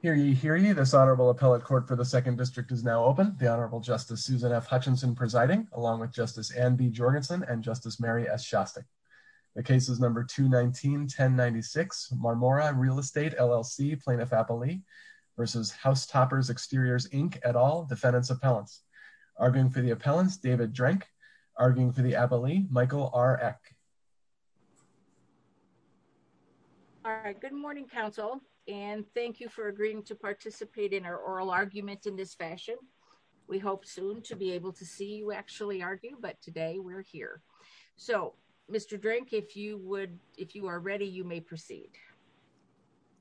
Hear ye, hear ye. This Honorable Appellate Court for the Second District is now open. The Honorable Justice Susan F. Hutchinson presiding, along with Justice Anne B. Jorgensen and Justice Mary S. Shostak. The case is number 219-1096, Marmora Real Estate, LLC, Plaintiff-Appellee v. House Toppers Exteriors, Inc., et al., Defendants' Appellants. Arguing for the appellants, David Drenk. Arguing for the appellee, Michael R. Eck. All right, good morning, counsel, and thank you for agreeing to participate in our oral argument in this fashion. We hope soon to be able to see you actually argue, but today we're here. So, Mr. Drenk, if you are ready, you may proceed.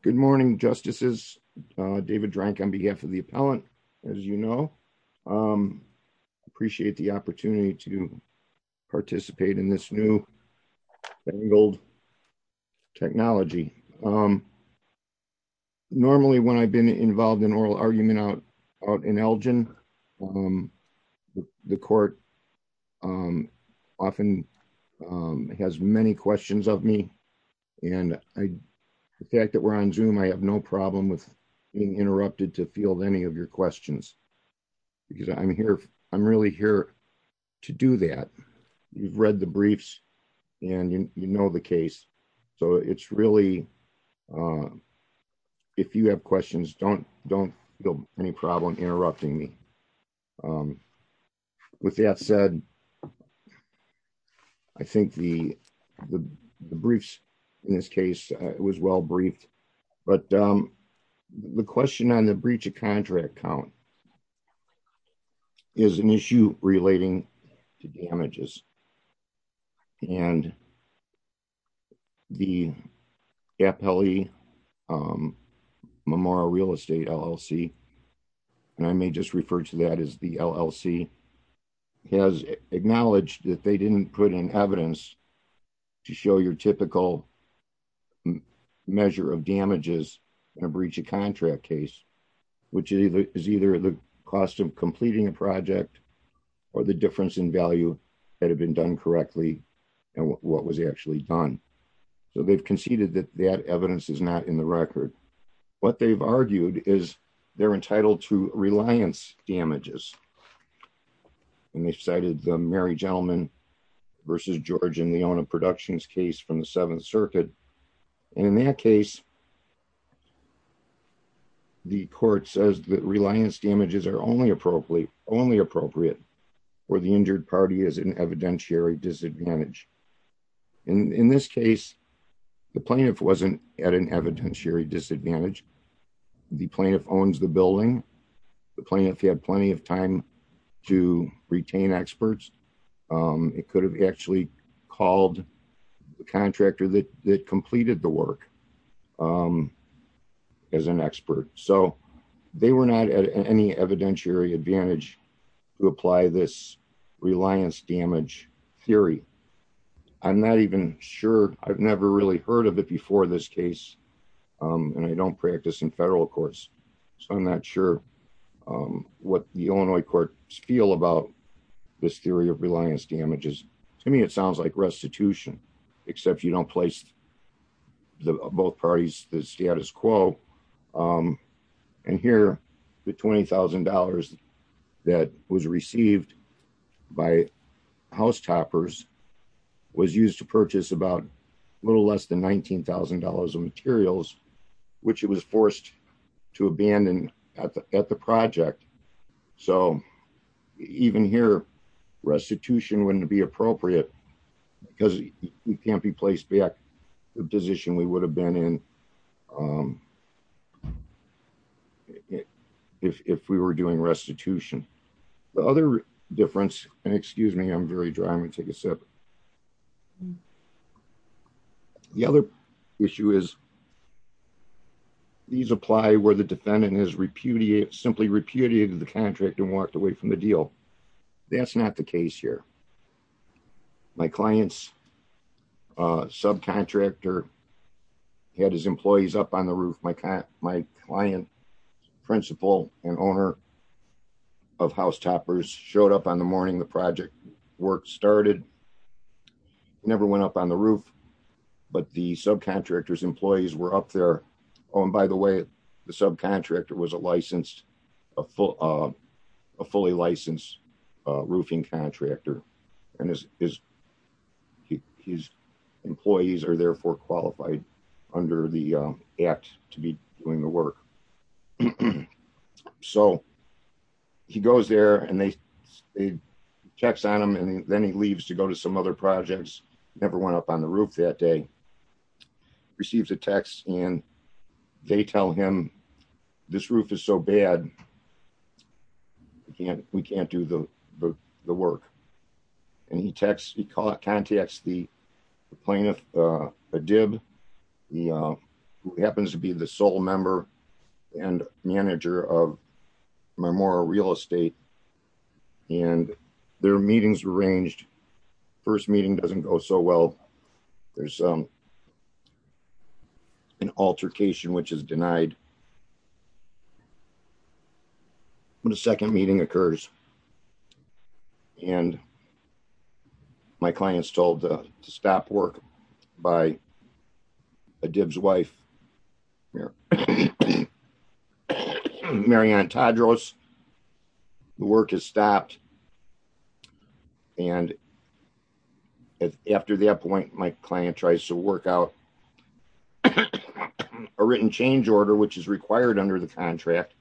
Good morning, Justices. David Drenk on behalf of the appellant, as you know. I appreciate the opportunity to participate in this new, tangled technology. Normally, when I've been involved in oral argument out in Elgin, the court often has many questions of me. And the fact that we're on Zoom, I have no problem with being interrupted to field any of your questions. Because I'm here, I'm really here to do that. You've read the briefs, and you know the case. So, it's really, if you have questions, don't feel any problem interrupting me. With that said, I think the briefs in this case was well briefed. But the question on the breach of contract count is an issue relating to damages. And the appellee, Memorial Real Estate LLC, and I may just refer to that as the LLC, has acknowledged that they didn't put in evidence to show your typical measure of damages in a breach of contract case. Which is either the cost of completing a project, or the difference in value that had been done correctly, and what was actually done. So, they've conceded that that evidence is not in the record. What they've argued is they're entitled to reliance damages. And they've cited the Mary Gentlemen v. George and Leona Productions case from the Seventh Circuit. And in that case, the court says that reliance damages are only appropriate for the injured party as an evidentiary disadvantage. And in this case, the plaintiff wasn't at an evidentiary disadvantage. The plaintiff owns the building. The plaintiff had plenty of time to retain experts. It could have actually called the contractor that completed the work as an expert. So, they were not at any evidentiary advantage to apply this reliance damage theory. I'm not even sure. I've never really heard of it before in this case. And I don't practice in federal courts. So, I'm not sure what the Illinois courts feel about this theory of reliance damages. To me, it sounds like restitution. Except you don't place both parties the status quo. And here, the $20,000 that was received by housetoppers was used to purchase about a little less than $19,000 of materials, which it was forced to abandon at the project. So, even here, restitution wouldn't be appropriate because it can't be placed back to the position we would have been in if we were doing restitution. The other difference, and excuse me, I'm very dry. I'm going to take a sip. The other issue is, these apply where the defendant has simply repudiated the contract and walked away from the deal. That's not the case here. My client's subcontractor had his employees up on the roof. My client's principal and owner of housetoppers showed up on the morning the project work started, never went up on the roof, but the subcontractor's employees were up there. Oh, and by the way, the subcontractor was a fully licensed roofing contractor. And his employees are therefore qualified under the act to be doing the work. So, he goes there and they text on him and then he leaves to go to some other projects, never went up on the roof that day. Receives a text and they tell him, this roof is so bad, we can't do the work. And he texts, he contacts the plaintiff, Adib, who happens to be the sole member and manager of Memorial Real Estate, and their meetings were arranged. First meeting doesn't go so well. There's an altercation which is denied. When the second meeting occurs, and my client's told to stop work by Adib's wife, Marianne Tadros, the work is stopped. And after that point, my client tries to work out a written change order which is required under the contract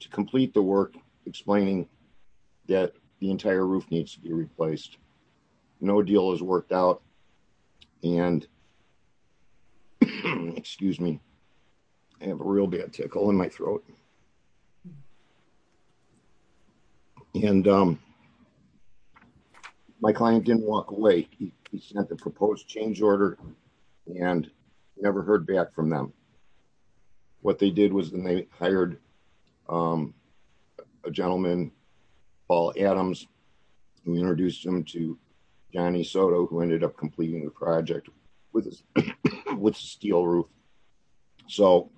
to complete the work, explaining that the entire roof needs to be replaced. No deal is worked out. And, excuse me, I have a real bad tickle in my throat. And my client didn't walk away. He sent the proposed change order and never heard back from them. What they did was they hired a gentleman, Paul Adams, and we introduced him to Johnny Soto, who ended up completing the project with a steel roof. So,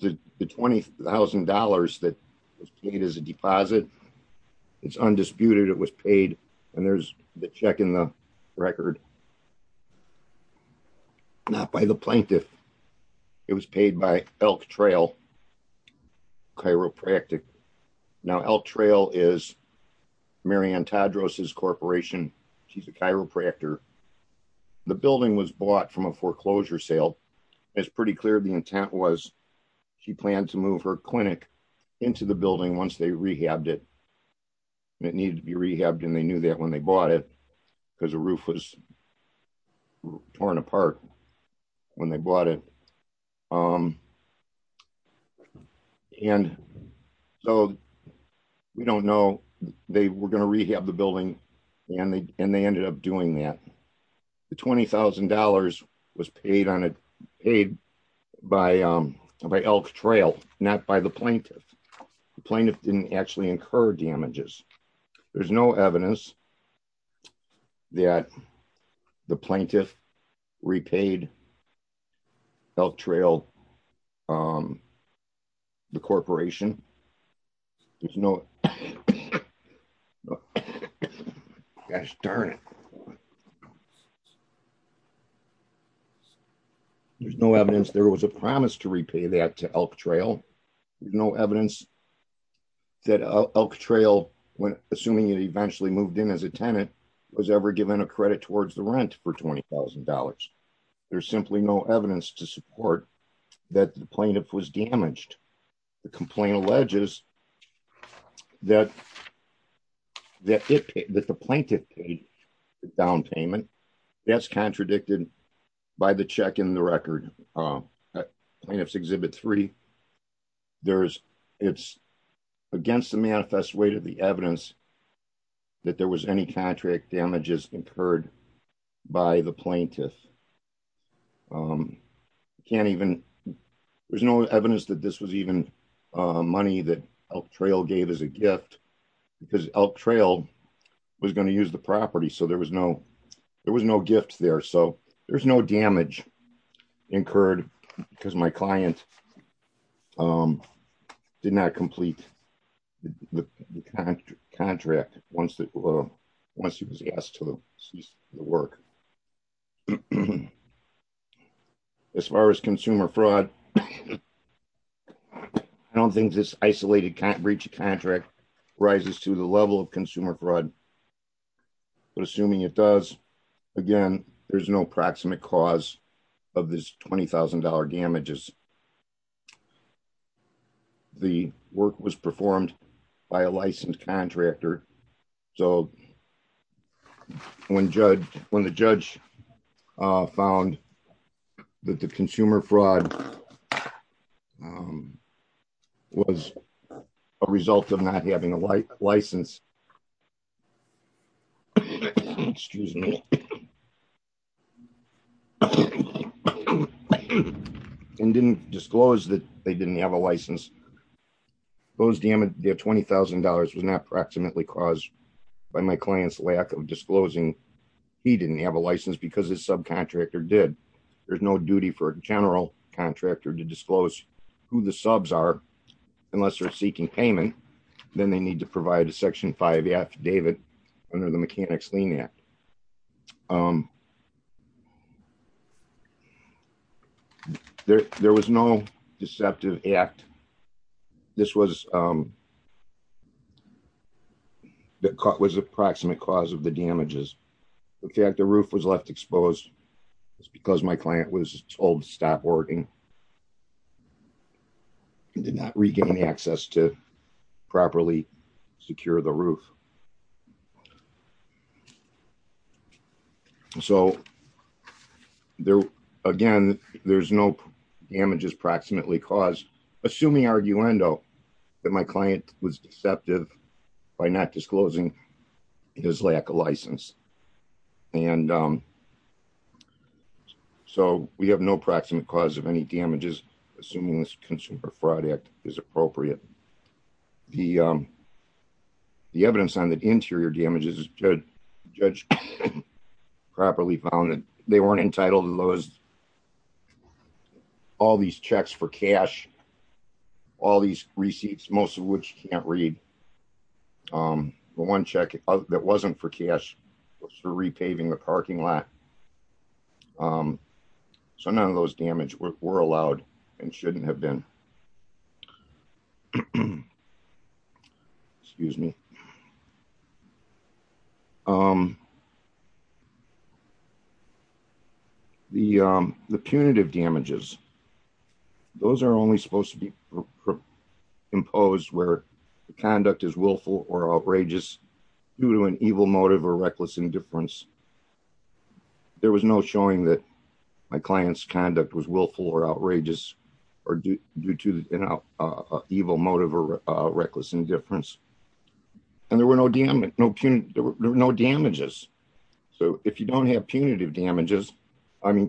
the $20,000 that was paid as a deposit, it's undisputed, it was paid, and there's the check in the record. Not by the plaintiff. It was paid by Elk Trail Chiropractic. Now Elk Trail is Marianne Tadros' corporation. She's a chiropractor. The building was bought from a foreclosure sale. It's pretty clear the intent was she planned to move her clinic into the building once they rehabbed it. It needed to be rehabbed and they knew that when they bought it, because the roof was torn apart when they bought it. And so, we don't know, they were going to rehab the building, and they ended up doing that. The $20,000 was paid by Elk Trail, not by the plaintiff. The plaintiff didn't actually incur damages. There's no evidence that the plaintiff repaid Elk Trail, the corporation. There's no evidence there was a promise to repay that to Elk Trail. There's no evidence that Elk Trail, assuming it eventually moved in as a tenant, was ever given a credit towards the rent for $20,000. There's simply no evidence to support that the plaintiff was damaged. The complaint alleges that the plaintiff paid the down payment. That's contradicted by the check in the record, Plaintiff's Exhibit 3. It's against the manifest way to the evidence that there was any contract damages incurred by the plaintiff. There's no evidence that this was even money that Elk Trail gave as a gift, because Elk Trail was going to use the property, so there was no gifts there. There's no damage incurred because my client did not complete the contract once he was asked to cease the work. As far as consumer fraud, I don't think this isolated breach of contract rises to the level of consumer fraud. Assuming it does, again, there's no proximate cause of this $20,000 damages. The work was performed by a licensed contractor, so when the judge found that the consumer fraud was a result of not having a license, and didn't disclose that they didn't have a license, those damage, their $20,000 was not proximately caused by my client's lack of disclosing he didn't have a license because his subcontractor did. There's no duty for a general contractor to disclose who the subs are unless they're seeking payment, then they need to provide a Section 5 affidavit under the Mechanics Lien Act. There was no deceptive act. This was a proximate cause of the damages. In fact, the roof was left exposed because my client was told to stop working. He did not regain access to properly secure the roof. So, again, there's no damages proximately caused, assuming arguendo, that my client was deceptive by not disclosing his lack of license. So, we have no proximate cause of any damages, assuming this consumer fraud act is appropriate. The evidence on the interior damages is good. The judge properly found that they weren't entitled to all these checks for cash, all these receipts, most of which you can't read. The one check that wasn't for cash was for repaving the parking lot. So, none of those damage were allowed and shouldn't have been. Excuse me. The punitive damages, those are only supposed to be imposed where the conduct is willful or outrageous due to an evil motive or reckless indifference. There was no showing that my client's conduct was willful or outrageous or due to an evil motive or reckless indifference. And there were no damages. So, if you don't have punitive damages, I mean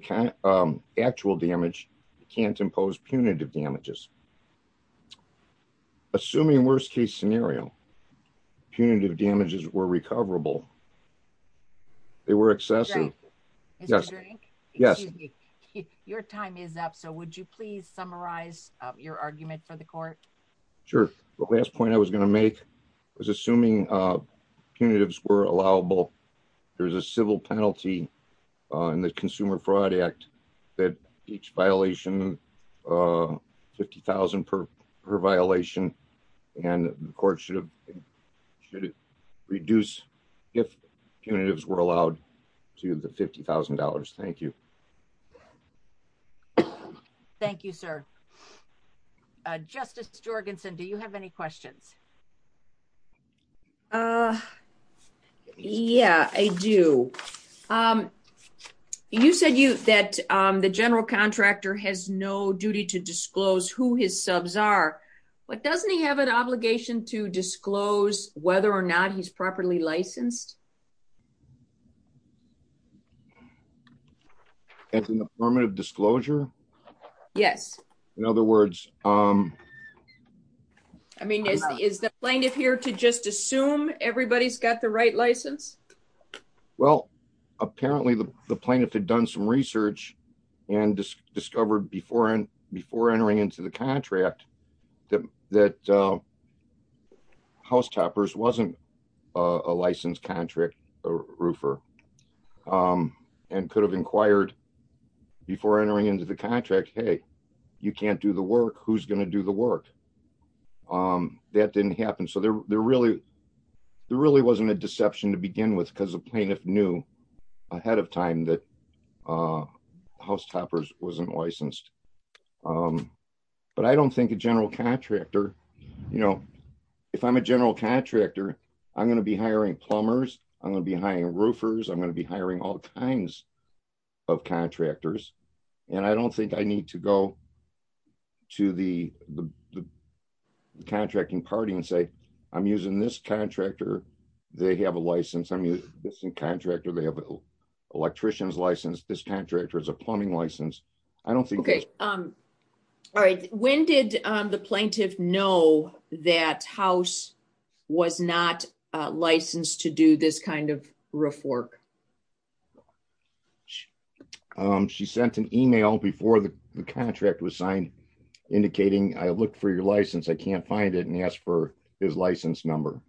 actual damage, you can't impose punitive damages. Assuming worst case scenario, punitive damages were recoverable. They were excessive. Mr. Drink? Yes. Your time is up. So, would you please summarize your argument for the court? Sure. The last point I was going to make was assuming punitives were allowable. There's a civil penalty in the Consumer Fraud Act that each violation, $50,000 per violation, and the court should reduce if punitives were allowed to the $50,000. Thank you. Thank you, sir. Justice Jorgensen, do you have any questions? Yeah, I do. You said that the general contractor has no duty to disclose who his subs are, but doesn't he have an obligation to disclose whether or not he's properly licensed? That's an affirmative disclosure? Yes. In other words... I mean, is the plaintiff here to just assume everybody's got the right license? Well, apparently the plaintiff had done some research and discovered before entering into the contract that House Toppers wasn't a licensed contract roofer and could have inquired before entering into the contract, hey, you can't do the work, who's going to do the work? That didn't happen. So there really wasn't a deception to begin with because the plaintiff knew ahead of time that House Toppers wasn't licensed. But I don't think a general contractor, you know, if I'm a general contractor, I'm going to be hiring plumbers, I'm going to be hiring roofers, I'm going to be hiring all kinds of contractors. And I don't think I need to go to the contracting party and say, I'm using this contractor, they have a license, I'm using this contractor, they have an electrician's license, this contractor has a plumbing license. When did the plaintiff know that House was not licensed to do this kind of roof work? The plaintiff sent an email before the contract was signed, indicating, I looked for your license, I can't find it, and asked for his license number.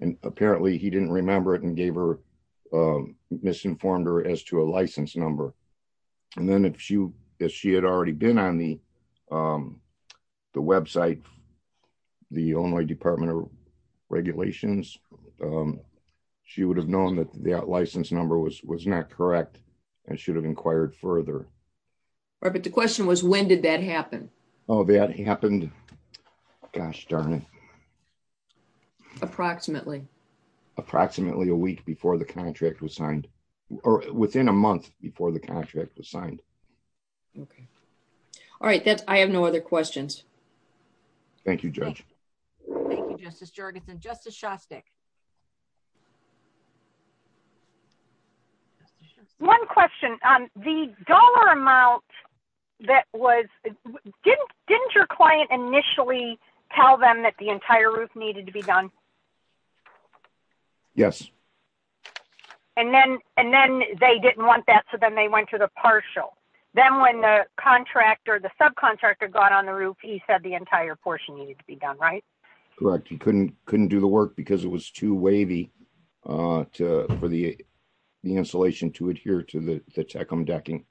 And apparently he didn't remember it and gave her, misinformed her as to a license number. And then if she had already been on the website, the Illinois Department of Regulations, she would have known that that license number was not correct and should have inquired further. But the question was, when did that happen? Oh, that happened, gosh darn it. Approximately? Approximately a week before the contract was signed, or within a month before the contract was signed. Okay. All right, I have no other questions. Thank you, Judge. Thank you, Justice Jorgensen. Justice Shostak. One question, the dollar amount that was, didn't your client initially tell them that the entire roof needed to be done? Yes. And then they didn't want that, so then they went to the partial. Then when the contractor, the subcontractor got on the roof, he said the entire portion needed to be done, right? Correct. He couldn't do the work because it was too wavy for the installation to adhere to the Tecumseh decking.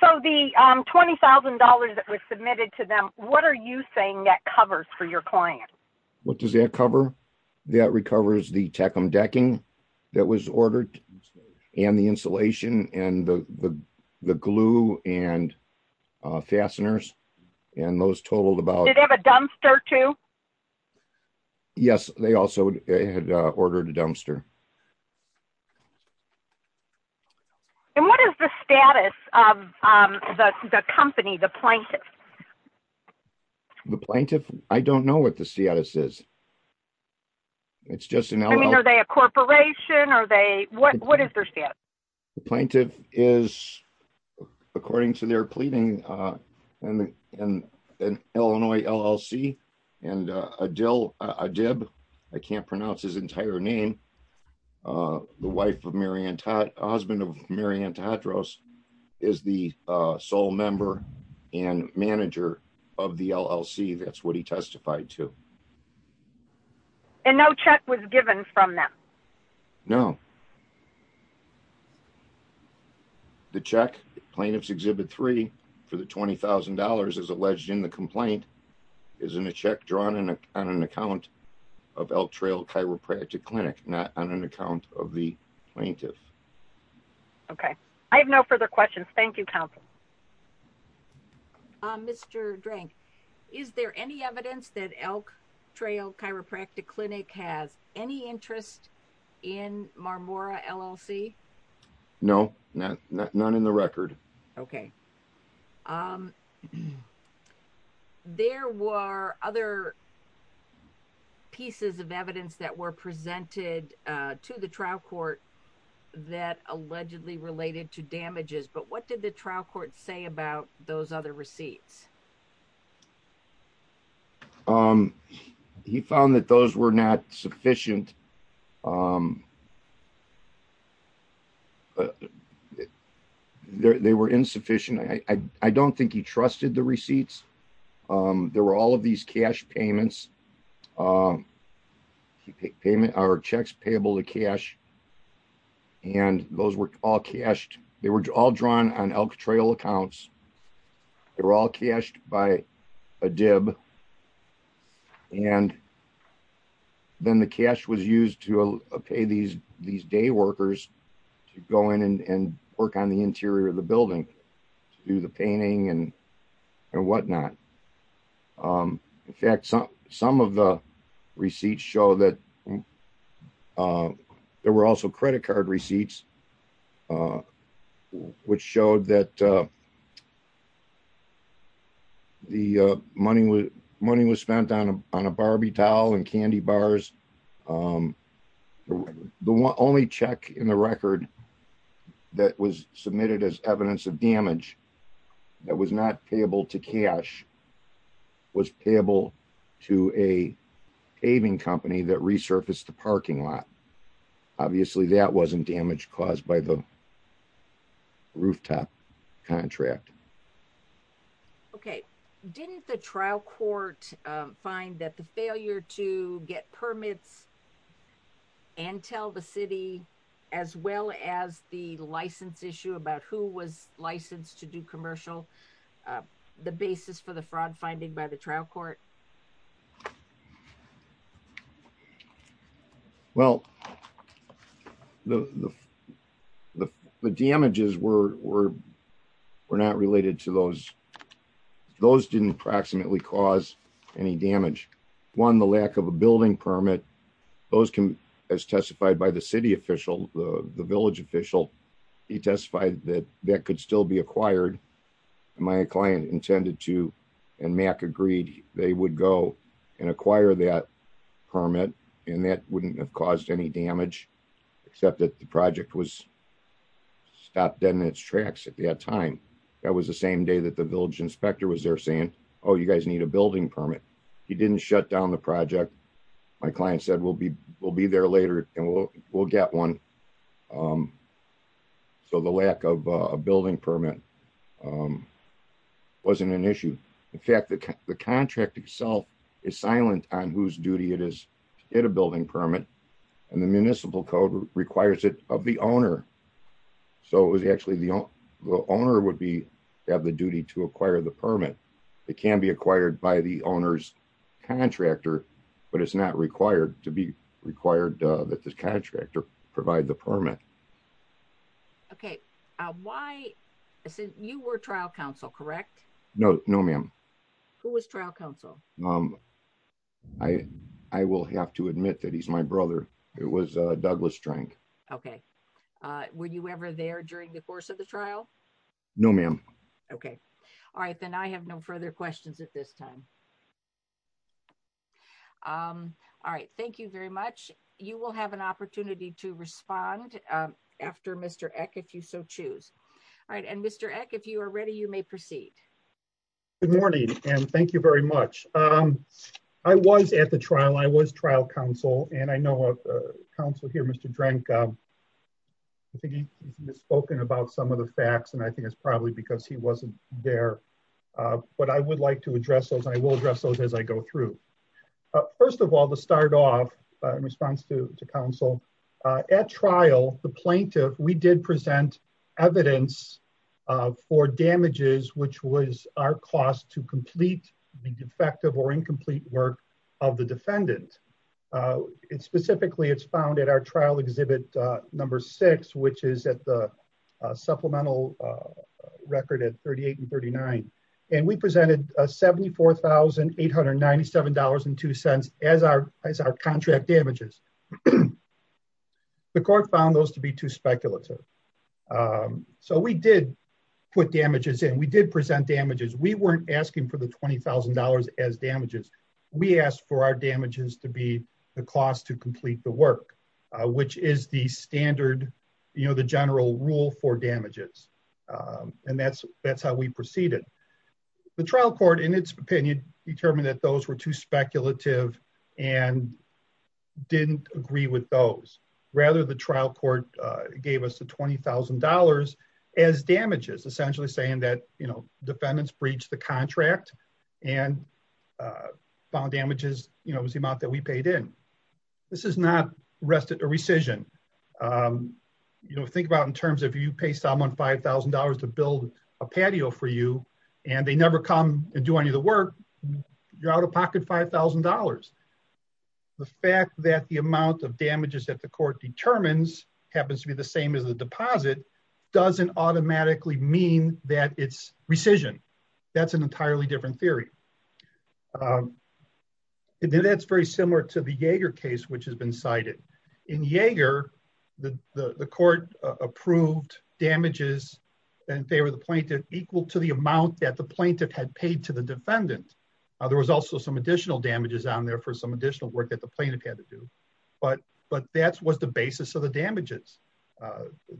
So the $20,000 that was submitted to them, what are you saying that covers for your client? What does that cover? That recovers the Tecumseh decking that was ordered, and the insulation, and the glue, and fasteners, and those totaled about... Did they have a dumpster too? Yes, they also had ordered a dumpster. And what is the status of the company, the plaintiff? The plaintiff? I don't know what the status is. I mean, are they a corporation? What is their status? The plaintiff is, according to their pleading, an Illinois LLC, and Adil Adib, I can't pronounce his entire name, the husband of Mary Ann Tatros, is the sole member and manager of the LLC. That's what he testified to. And no check was given from them? No. The check, Plaintiff's Exhibit 3, for the $20,000, as alleged in the complaint, is in a check drawn on an account of Elk Trail Chiropractic Clinic, not on an account of the plaintiff. Okay. I have no further questions. Thank you, Counsel. Mr. Drank, is there any evidence that Elk Trail Chiropractic Clinic has any interest in Marmora LLC? No, none in the record. Okay. There were other pieces of evidence that were presented to the trial court that allegedly related to damages, but what did the trial court say about those other receipts? He found that those were not sufficient. They were insufficient. I don't think he trusted the receipts. There were all of these cash payments, or checks payable to cash, and those were all cashed. They were all drawn on Elk Trail accounts. They were all cashed by a dib, and then the cash was used to pay these day workers to go in and work on the interior of the building to do the painting and whatnot. In fact, some of the receipts show that there were also credit card receipts, which showed that the money was spent on a Barbie doll and candy bars. The only check in the record that was submitted as evidence of damage that was not payable to cash was payable to a paving company that resurfaced the parking lot. Obviously, that wasn't damage caused by the rooftop contract. Okay. Didn't the trial court find that the failure to get permits and tell the city, as well as the license issue about who was licensed to do commercial, the basis for the fraud finding by the trial court? Well, the damages were not related to those. Those didn't approximately cause any damage. One, the lack of a building permit, those can, as testified by the city official, the village official, he testified that that could still be acquired. My client intended to, and Mac agreed, they would go and acquire that permit, and that wouldn't have caused any damage, except that the project was stopped dead in its tracks at that time. That was the same day that the village inspector was there saying, oh, you guys need a building permit. He didn't shut down the project. My client said, we'll be there later, and we'll get one. So the lack of a building permit wasn't an issue. In fact, the contract itself is silent on whose duty it is to get a building permit, and the municipal code requires it of the owner. So it was actually the owner would have the duty to acquire the permit. It can be acquired by the owner's contractor, but it's not required to be required that the contractor provide the permit. Okay. Why? You were trial counsel, correct? No, no, ma'am. Who was trial counsel? I will have to admit that he's my brother. It was Douglas Drink. Okay. Were you ever there during the course of the trial? No, ma'am. Okay. All right, then I have no further questions at this time. All right, thank you very much. You will have an opportunity to respond after Mr. Eck if you so choose. All right, and Mr. Eck if you are ready, you may proceed. Good morning, and thank you very much. I was at the trial, I was trial counsel, and I know counsel here, Mr. Drink, I think he has spoken about some of the facts and I think it's probably because he wasn't there. But I would like to address those, I will address those as I go through. First of all, to start off in response to counsel, at trial, the plaintiff, we did present evidence for damages, which was our cost to complete the defective or incomplete work of the defendant. Specifically, it's found at our trial exhibit number six, which is at the supplemental record at 38 and 39. And we presented a $74,897.02 as our contract damages. The court found those to be too speculative. So we did put damages in, we did present damages, we weren't asking for the $20,000 as damages. We asked for our damages to be the cost to complete the work, which is the standard, you know, the general rule for damages. And that's how we proceeded. The trial court, in its opinion, determined that those were too speculative and didn't agree with those. Rather, the trial court gave us the $20,000 as damages, essentially saying that, you know, defendants breached the contract and found damages, you know, was the amount that we paid in. This is not a rescission. You know, think about in terms of you pay someone $5,000 to build a patio for you, and they never come and do any of the work, you're out of pocket $5,000. The fact that the amount of damages that the court determines happens to be the same as the deposit doesn't automatically mean that it's rescission. That's an entirely different theory. And then that's very similar to the Yeager case, which has been cited. In Yeager, the court approved damages in favor of the plaintiff equal to the amount that the plaintiff had paid to the defendant. There was also some additional damages on there for some additional work that the plaintiff had to do. But that was the basis of the damages.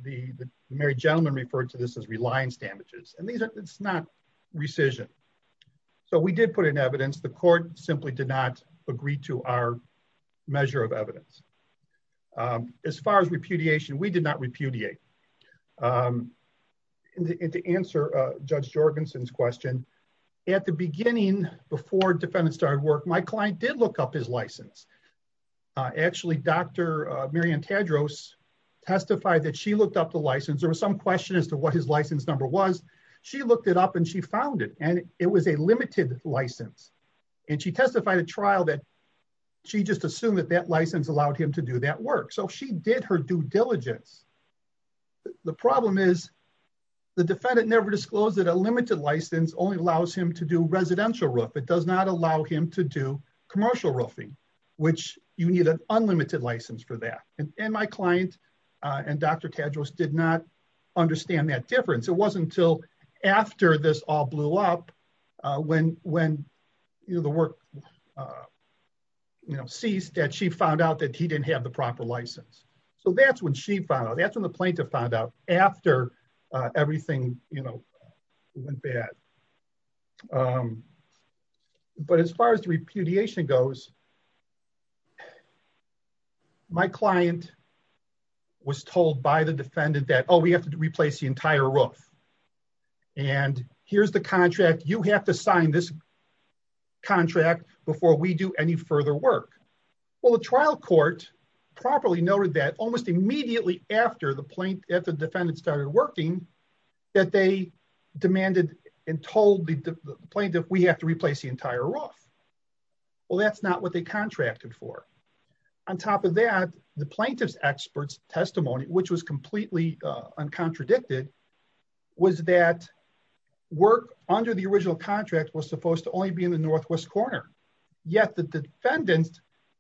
The married gentleman referred to this as reliance damages, and it's not rescission. So we did put in evidence. The court simply did not agree to our measure of evidence. As far as repudiation, we did not repudiate. And to answer Judge Jorgensen's question, at the beginning, before defendants started work, my client did look up his license. Actually, Dr. Marian Tadros testified that she looked up the license. There was some question as to what his license number was. She looked it up and she found it, and it was a limited license. And she testified at trial that she just assumed that that license allowed him to do that work. So she did her due diligence. The problem is the defendant never disclosed that a limited license only allows him to do residential roofing. It does not allow him to do commercial roofing, which you need an unlimited license for that. And my client and Dr. Tadros did not understand that difference. It wasn't until after this all blew up, when the work ceased, that she found out that he didn't have the proper license. So that's when she found out. That's when the plaintiff found out, after everything went bad. But as far as repudiation goes, my client was told by the defendant that, oh, we have to replace the entire roof. And here's the contract. You have to sign this contract before we do any further work. Well, the trial court properly noted that almost immediately after the defendant started working, that they demanded and told the plaintiff, we have to replace the entire roof. Well, that's not what they contracted for. On top of that, the plaintiff's expert's testimony, which was completely uncontradicted, was that work under the original contract was supposed to only be in the northwest corner. Yet the defendant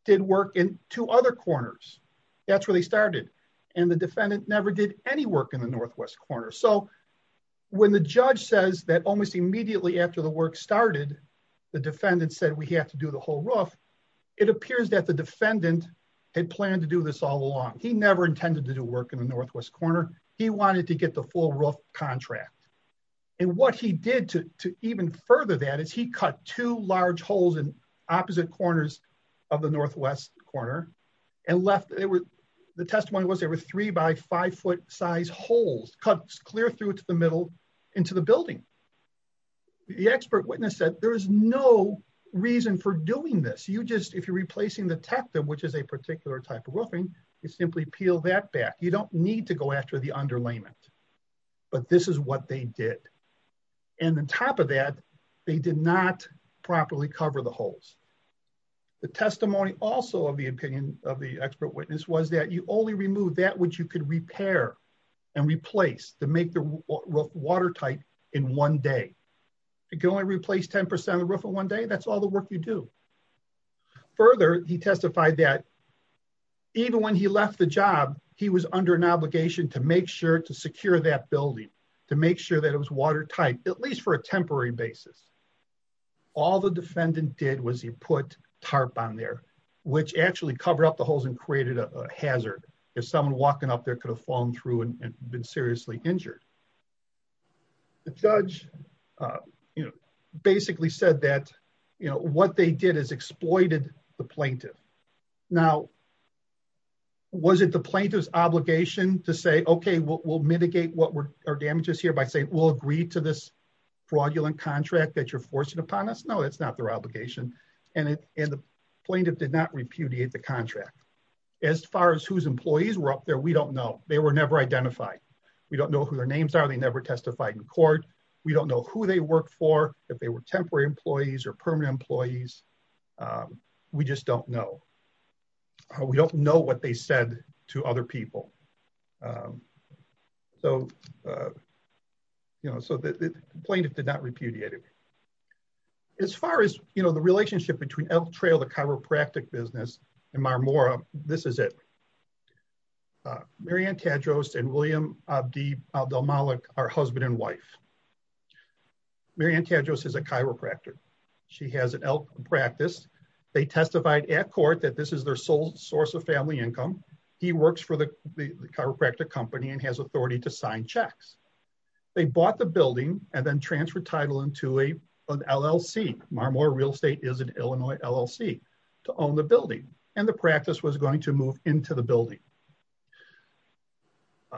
did work in two other corners. That's where they started. And the defendant never did any work in the northwest corner. So when the judge says that almost immediately after the work started, the defendant said we have to do the whole roof, it appears that the defendant had planned to do this all along. He never intended to do work in the northwest corner. He wanted to get the full roof contract. And what he did to even further that is he cut two large holes in opposite corners of the northwest corner and left, the testimony was there were three by five foot size holes cut clear through to the middle into the building. The expert witness said there is no reason for doing this. You just, if you're replacing the tectum, which is a particular type of roofing, you simply peel that back. You don't need to go after the underlayment. But this is what they did. And on top of that, they did not properly cover the holes. The testimony also of the opinion of the expert witness was that you only remove that which you could repair and replace to make the watertight in one day. You can only replace 10% of the roof in one day. That's all the work you do. Further, he testified that even when he left the job, he was under an obligation to make sure to secure that building to make sure that it was watertight, at least for a temporary basis. All the defendant did was he put tarp on there, which actually cover up the holes and created a hazard. If someone walking up there could have fallen through and been seriously injured. The judge, you know, basically said that, you know, what they did is exploited the plaintiff. Now, was it the plaintiff's obligation to say, okay, we'll mitigate our damages here by saying we'll agree to this fraudulent contract that you're forcing upon us? No, it's not their obligation. And the plaintiff did not repudiate the contract. As far as whose employees were up there, we don't know. They were never identified. We don't know who their names are. They never testified in court. We don't know who they work for, if they were temporary employees or permanent employees. We just don't know. We don't know what they said to other people. So, you know, so the plaintiff did not repudiate it. As far as, you know, the relationship between Elk Trail, the chiropractic business, and Marmora, this is it. Mary Ann Tadros and William Abdel-Malik are husband and wife. Mary Ann Tadros is a chiropractor. She has an elk practice. They testified at court that this is their sole source of family income. He works for the chiropractic company and has authority to sign checks. They bought the building and then transferred title into an LLC. Marmora Real Estate is an Illinois LLC to own the building, and the practice was going to move into the building.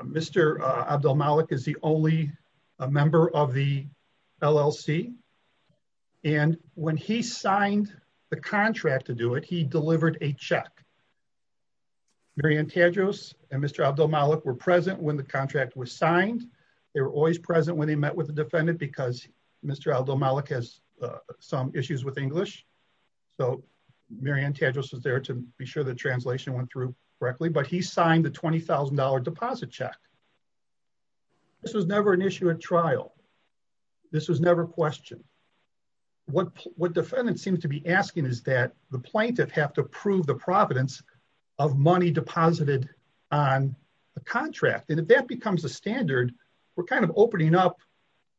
Mr. Abdel-Malik is the only member of the LLC. And when he signed the contract to do it, he delivered a check. Mary Ann Tadros and Mr. Abdel-Malik were present when the contract was signed. They were always present when they met with the defendant because Mr. Abdel-Malik has some issues with English. So Mary Ann Tadros was there to be sure the translation went through correctly, but he signed the $20,000 deposit check. This was never an issue at trial. This was never questioned. What defendants seem to be asking is that the plaintiff have to prove the providence of money deposited on the contract. And if that becomes a standard, we're kind of opening up,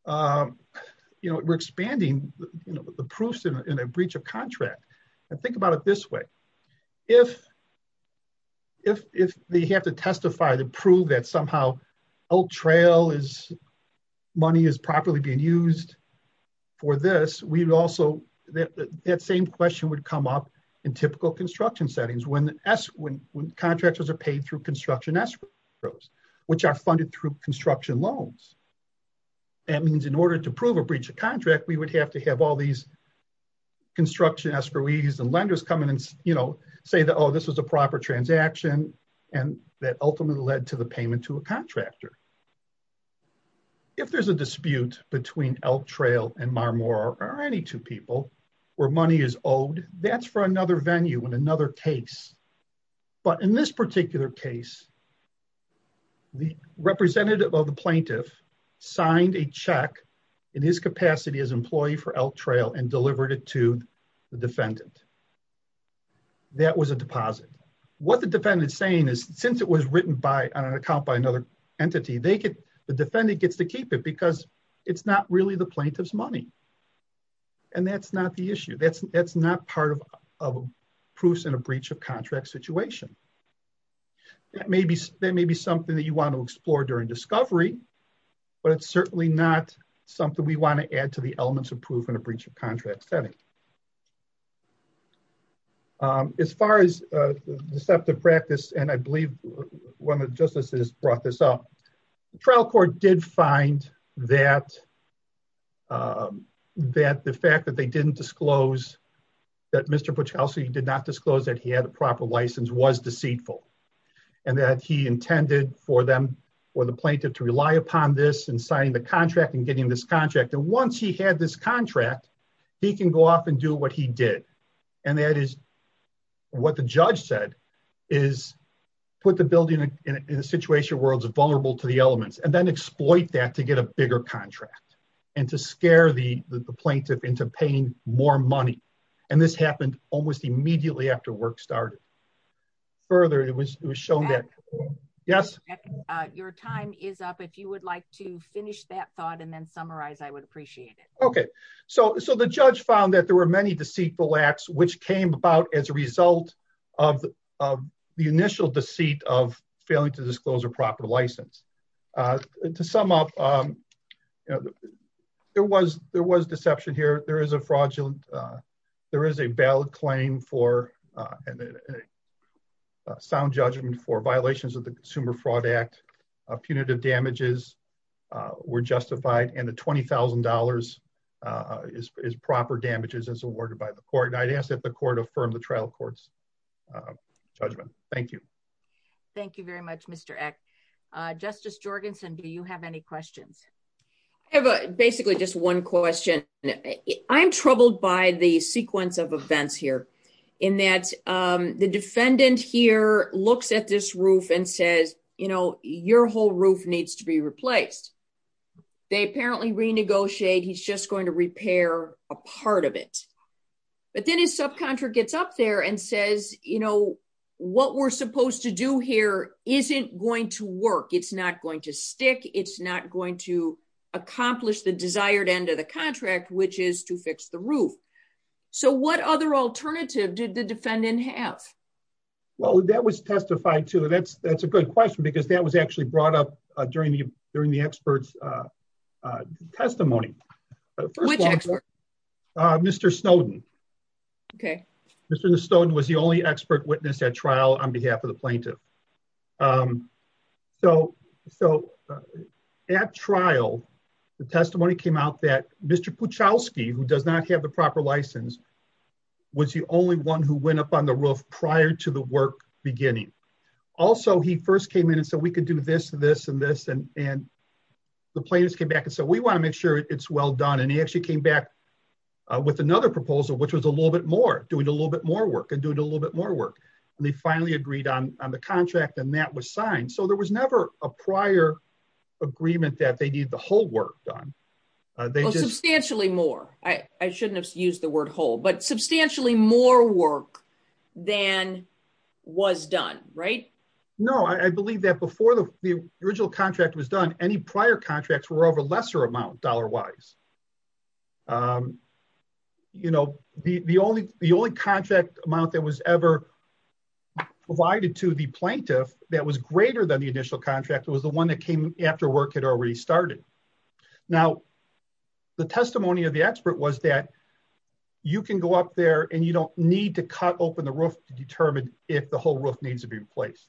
you know, we're expanding the proofs in a breach of contract. Think about it this way. If they have to testify to prove that somehow Oak Trail money is properly being used for this, that same question would come up in typical construction settings when contractors are paid through construction escrows, which are funded through construction loans. That means in order to prove a breach of contract, we would have to have all these construction escrowees and lenders come in and, you know, say that, oh, this was a proper transaction and that ultimately led to the payment to a contractor. If there's a dispute between Oak Trail and Marmore or any two people where money is owed, that's for another venue and another case. But in this particular case, the representative of the plaintiff signed a check in his capacity as employee for Oak Trail and delivered it to the defendant. That was a deposit. What the defendant is saying is since it was written on an account by another entity, the defendant gets to keep it because it's not really the plaintiff's money. And that's not the issue. That's not part of proofs in a breach of contract situation. That may be something that you want to explore during discovery, but it's certainly not something we want to add to the elements of proof in a breach of contract setting. As far as deceptive practice, and I believe one of the justices brought this up, the trial court did find that the fact that they didn't disclose that Mr. Puchelcy did not disclose that he had a proper license was deceitful. And that he intended for the plaintiff to rely upon this in signing the contract and getting this contract. And once he had this contract, he can go off and do what he did. And that is what the judge said is put the building in a situation where it's vulnerable to the elements and then exploit that to get a bigger contract and to scare the plaintiff into paying more money. And this happened almost immediately after work started. Further, it was shown that, yes. Your time is up. If you would like to finish that thought and then summarize, I would appreciate it. Okay, so the judge found that there were many deceitful acts which came about as a result of the initial deceit of failing to disclose a proper license. To sum up, there was deception here. There is a fraudulent, there is a valid claim for a sound judgment for violations of the Consumer Fraud Act. Punitive damages were justified and the $20,000 is proper damages as awarded by the court. And I'd ask that the court affirm the trial court's judgment. Thank you. Thank you very much, Mr. Eck. Justice Jorgensen, do you have any questions? I have basically just one question. I'm troubled by the sequence of events here. In that the defendant here looks at this roof and says, you know, your whole roof needs to be replaced. They apparently renegotiate. He's just going to repair a part of it. But then his subcontractor gets up there and says, you know, what we're supposed to do here isn't going to work. It's not going to stick. It's not going to accomplish the desired end of the contract, which is to fix the roof. So what other alternative did the defendant have? Well, that was testified to and that's a good question because that was actually brought up during the expert's testimony. Which expert? Mr. Snowden. Mr. Snowden was the only expert witness at trial on behalf of the plaintiff. So at trial, the testimony came out that Mr. Puchowski, who does not have the proper license, was the only one who went up on the roof prior to the work beginning. Also, he first came in and said, we could do this, this and this. And the plaintiffs came back and said, we want to make sure it's well done. And he actually came back with another proposal, which was a little bit more, doing a little bit more work and doing a little bit more work. And they finally agreed on the contract and that was signed. So there was never a prior agreement that they needed the whole work done. Substantially more. I shouldn't have used the word whole, but substantially more work than was done. Right? No, I believe that before the original contract was done, any prior contracts were of a lesser amount dollar-wise. You know, the only contract amount that was ever provided to the plaintiff that was greater than the initial contract was the one that came after work had already started. Now, the testimony of the expert was that you can go up there and you don't need to cut open the roof to determine if the whole roof needs to be replaced.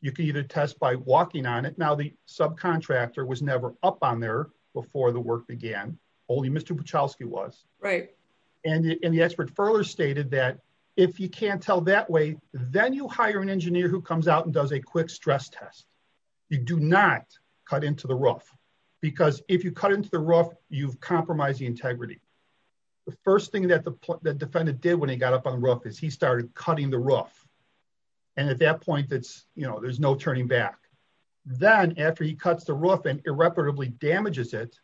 You can either test by walking on it. Now, the subcontractor was never up on there before the work began. Only Mr. Puchowski was. And the expert further stated that if you can't tell that way, then you hire an engineer who comes out and does a quick stress test. You do not cut into the roof because if you cut into the roof, you've compromised the integrity. The first thing that the defendant did when he got up on the roof is he started cutting the roof. And at that point, there's no turning back. Then after he cuts the roof and irreparably damages it,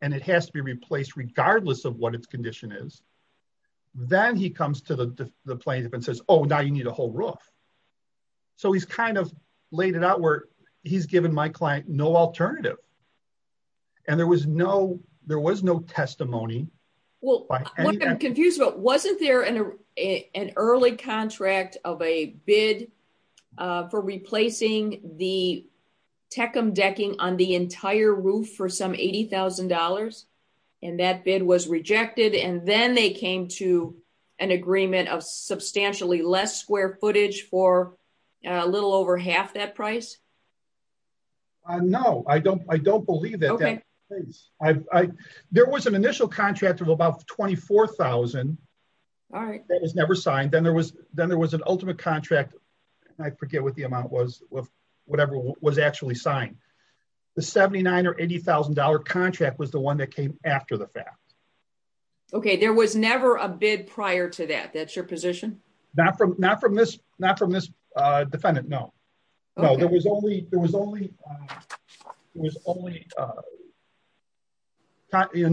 and it has to be replaced regardless of what its condition is, then he comes to the plaintiff and says, oh, now you need a whole roof. So he's kind of laid it out where he's given my client no alternative. And there was no testimony. Well, what I'm confused about, wasn't there an early contract of a bid for replacing the Teckum decking on the entire roof for some $80,000? And that bid was rejected, and then they came to an agreement of substantially less square footage for a little over half that price? No, I don't believe that. There was an initial contract of about $24,000 that was never signed. Then there was an ultimate contract, and I forget what the amount was, of whatever was actually signed. The $79,000 or $80,000 contract was the one that came after the fact. Okay, there was never a bid prior to that. That's your position? Not from this defendant, no. Okay.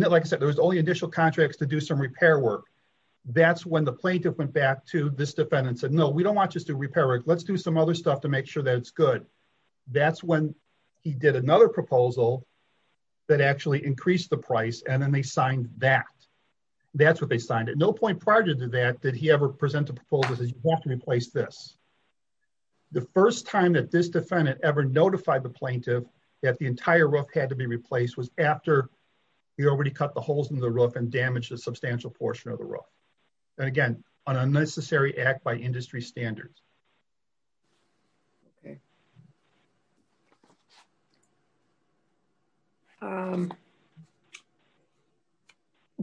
Like I said, there was only initial contracts to do some repair work. That's when the plaintiff went back to this defendant and said, no, we don't want just to repair it. Let's do some other stuff to make sure that it's good. That's when he did another proposal that actually increased the price, and then they signed that. That's what they signed it. No point prior to that did he ever present a proposal that says you have to replace this. The first time that this defendant ever notified the plaintiff that the entire roof had to be replaced was after he already cut the holes in the roof and damaged a substantial portion of the roof. Again, an unnecessary act by industry standards. Okay.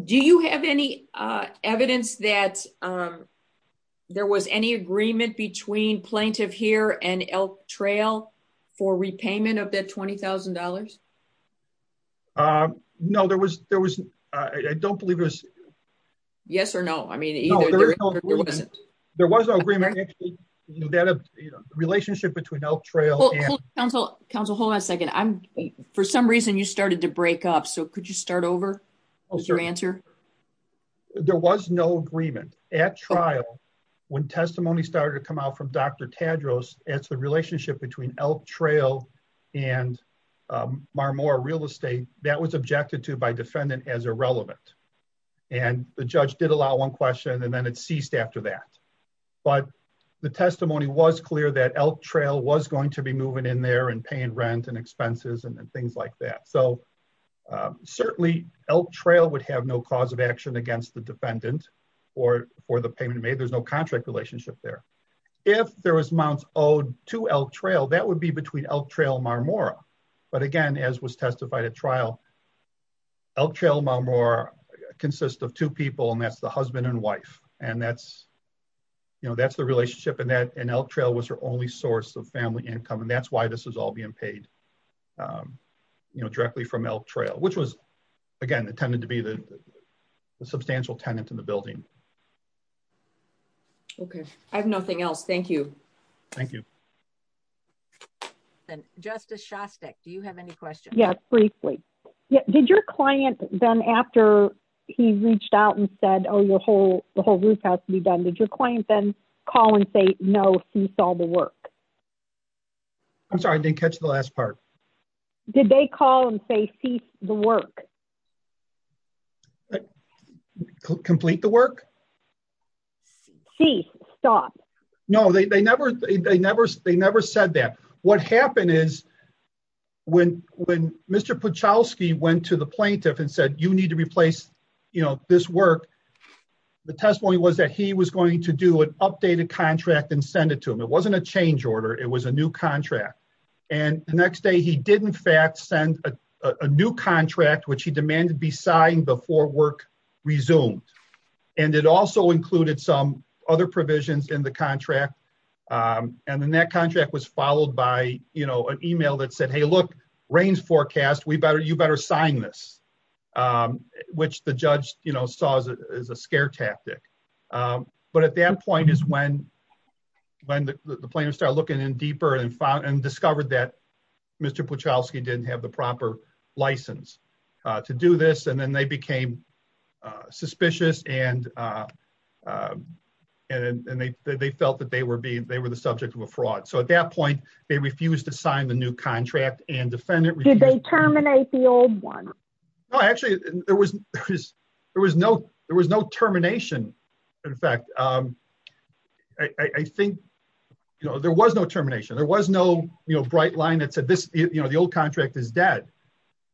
Do you have any evidence that there was any agreement between Plaintiff Heer and Elk Trail for repayment of that $20,000? No, there wasn't. I don't believe it was. Yes or no? No, there was no agreement. The relationship between Elk Trail and... Counsel, hold on a second. For some reason, you started to break up, so could you start over with your answer? There was no agreement. At trial, when testimony started to come out from Dr. Tadros, it's the relationship between Elk Trail and Marmore Real Estate that was objected to by defendant as irrelevant. And the judge did allow one question, and then it ceased after that. But the testimony was clear that Elk Trail was going to be moving in there and paying rent and expenses and things like that. So, certainly, Elk Trail would have no cause of action against the defendant for the payment made. There's no contract relationship there. If there was amounts owed to Elk Trail, that would be between Elk Trail and Marmore. But again, as was testified at trial, Elk Trail and Marmore consist of two people, and that's the husband and wife. And that's the relationship, and Elk Trail was her only source of family income, and that's why this is all being paid directly from Elk Trail, which was, again, intended to be the substantial tenant in the building. Okay. I have nothing else. Thank you. Thank you. Justice Shostak, do you have any questions? Yes, briefly. Did your client then, after he reached out and said, oh, the whole roof has to be done, did your client then call and say, no, cease all the work? I'm sorry, I didn't catch the last part. Did they call and say, cease the work? Complete the work? Cease. Stop. No, they never said that. What happened is, when Mr. Puchowski went to the plaintiff and said, you need to replace this work, the testimony was that he was going to do an updated contract and send it to him. It wasn't a change order, it was a new contract. And the next day, he did, in fact, send a new contract, which he demanded be signed before work resumed. And it also included some other provisions in the contract, and then that contract was followed by an email that said, hey, look, rain's forecast, you better sign this, which the judge saw as a scare tactic. But at that point is when the plaintiff started looking in deeper and discovered that Mr. Puchowski didn't have the proper license to do this, and then they became suspicious and they felt that they were the subject of a fraud. So at that point, they refused to sign the new contract. Did they terminate the old one? No, actually, there was no termination. In fact, I think there was no termination. There was no bright line that said the old contract is dead.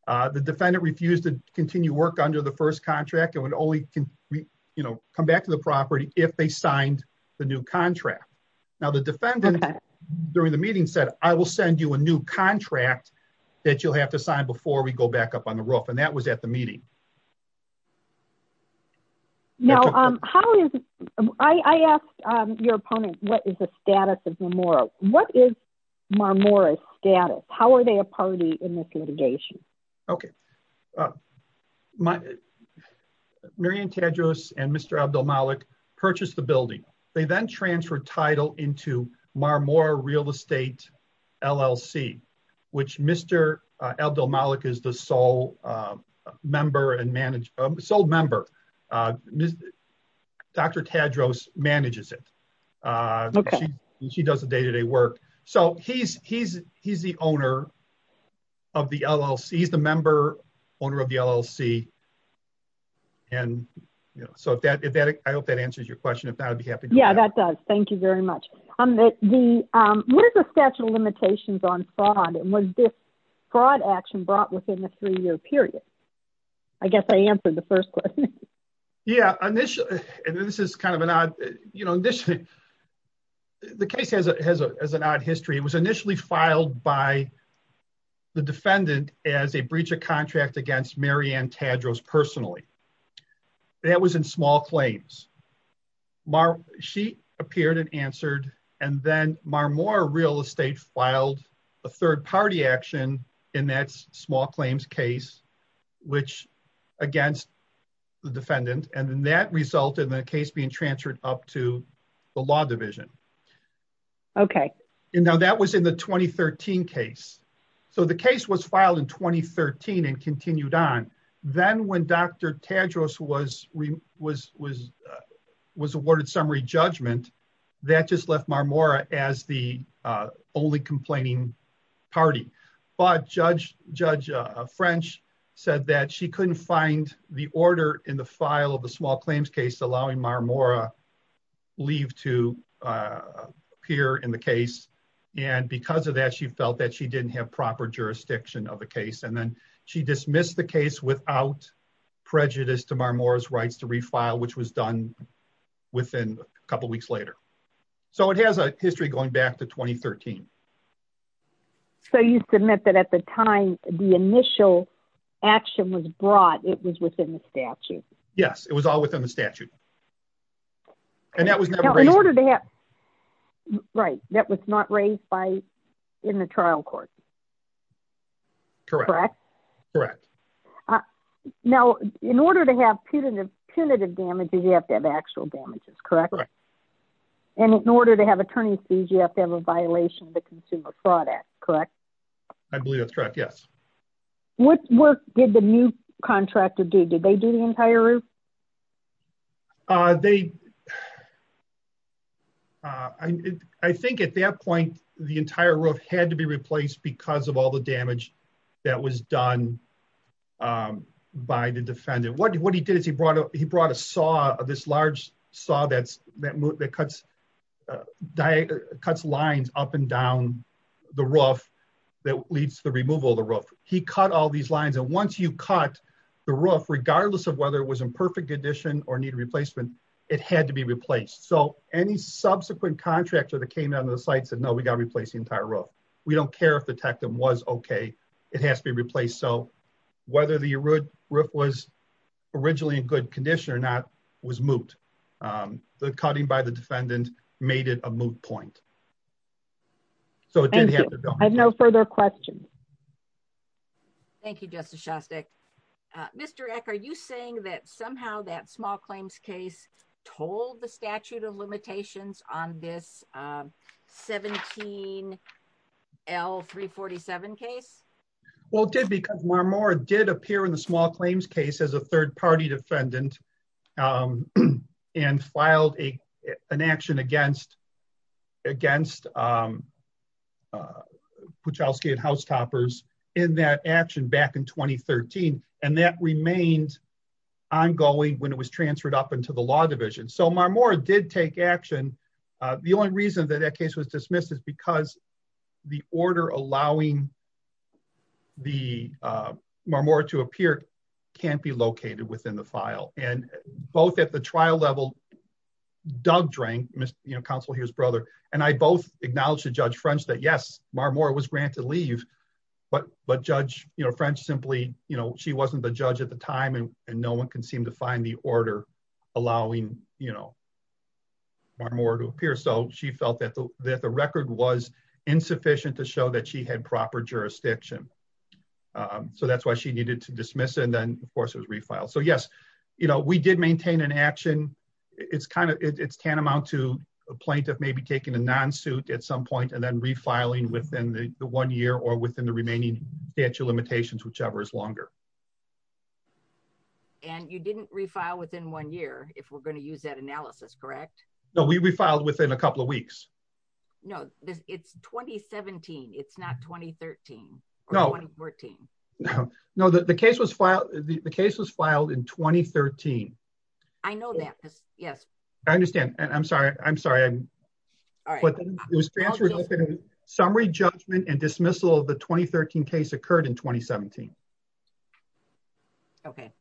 The defendant refused to continue work under the first contract and would only come back to the property if they signed the new contract. Now, the defendant during the meeting said, I will send you a new contract that you'll have to sign before we go back up on the roof, and that was at the meeting. Now, I asked your opponent, what is the status of Marmora? What is Marmora's status? How are they a party in this litigation? Okay. Marian Tadros and Mr. Abdel-Malik purchased the building. They then transferred title into Marmora Real Estate LLC, which Mr. Abdel-Malik is the sole member and manager, sole member. Dr. Tadros manages it. Okay. She does the day-to-day work. He's the owner of the LLC. He's the member owner of the LLC. I hope that answers your question. Yeah, that does. Thank you very much. What is the statute of limitations on fraud? Was this fraud action brought within a three-year period? I guess I answered the first question. Yeah, initially, and this is kind of an odd, you know, the case has an odd history. It was initially filed by the defendant as a breach of contract against Marian Tadros personally. That was in small claims. She appeared and answered, and then Marmora Real Estate filed a third-party action in that small claims case against the defendant, and then that resulted in the case being transferred up to the law division. Okay. And now that was in the 2013 case. So the case was filed in 2013 and continued on. Then when Dr. Tadros was awarded summary judgment, that just left Marmora as the only complaining party. But Judge French said that she couldn't find the order in the file of the small claims case allowing Marmora leave to appear in the case. And because of that, she felt that she didn't have proper jurisdiction of the case. And then she dismissed the case without prejudice to Marmora's rights to refile, which was done within a couple weeks later. So it has a history going back to 2013. So you submit that at the time the initial action was brought, it was within the statute? Yes, it was all within the statute. And that was never raised? Right. That was not raised in the trial court? Correct. Correct. Now, in order to have punitive damages, you have to have actual damages, correct? Correct. And in order to have attorney's fees, you have to have a violation of the Consumer Fraud Act, correct? I believe that's correct, yes. What work did the new contractor do? Did they do the entire roof? They, I think at that point, the entire roof had to be replaced because of all the damage that was done by the defendant. What he did is he brought a saw, this large saw that cuts lines up and down the roof that leads to the removal of the roof. He cut all these lines, and once you cut the roof, regardless of whether it was in perfect condition or needed replacement, it had to be replaced. So any subsequent contractor that came down to the site said, no, we got to replace the entire roof. We don't care if the tectum was okay, it has to be replaced. So whether the roof was originally in good condition or not was moot. The cutting by the defendant made it a moot point. I have no further questions. Thank you, Justice Shostak. Mr. Eck, are you saying that somehow that small claims case told the statute of limitations on this 17L347 case? Well, it did because Marmora did appear in the small claims case as a third party defendant and filed an action against Puchowski and Housetoppers in that action back in 2013, and that remained ongoing when it was transferred up into the law division. So Marmora did take action. The only reason that that case was dismissed is because the order allowing Marmora to appear can't be located within the file. And both at the trial level, Doug drank, counsel here's brother, and I both acknowledged to Judge French that yes, Marmora was granted leave, but Judge French simply, she wasn't the judge at the time and no one can seem to find the order allowing Marmora to appear. So she felt that the record was insufficient to show that she had proper jurisdiction. So that's why she needed to dismiss it and then of course it was refiled. You know, we did maintain an action. It's kind of, it's tantamount to a plaintiff maybe taking a non-suit at some point and then refiling within the one year or within the remaining statute of limitations, whichever is longer. And you didn't refile within one year, if we're going to use that analysis, correct? No, we refiled within a couple of weeks. No, it's 2017. It's not 2013 or 2014. No, the case was filed in 2013. I know that. Yes. I understand. I'm sorry. I'm sorry. Summary judgment and dismissal of the 2013 case occurred in 2017. Okay.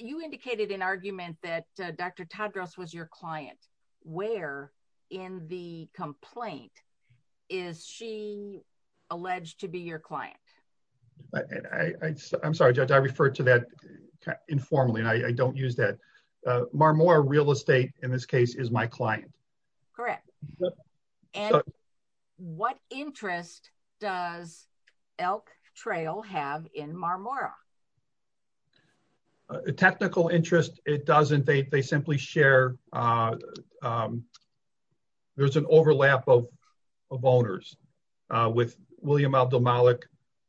You indicated an argument that Dr. Tadros was your client. Where in the complaint is she alleged to be your client? I'm sorry, Judge, I refer to that informally and I don't use that. Marmora Real Estate in this case is my client. Correct. And what interest does Elk Trail have in Marmora? Technical interest, it doesn't. They simply share. There's an overlap of owners with William Abdel-Malik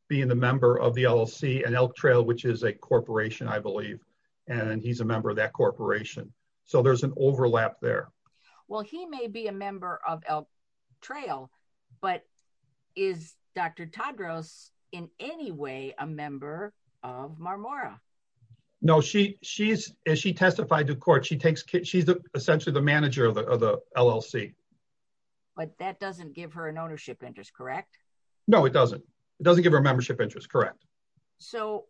being the member of the LLC and Elk Trail, which is a corporation, I believe. And he's a member of that corporation. So there's an overlap there. Well, he may be a member of Elk Trail, but is Dr. Tadros in any way a member of Marmora? No, as she testified to court, she's essentially the manager of the LLC. But that doesn't give her an ownership interest, correct? No, it doesn't. It doesn't give her a membership interest, correct. So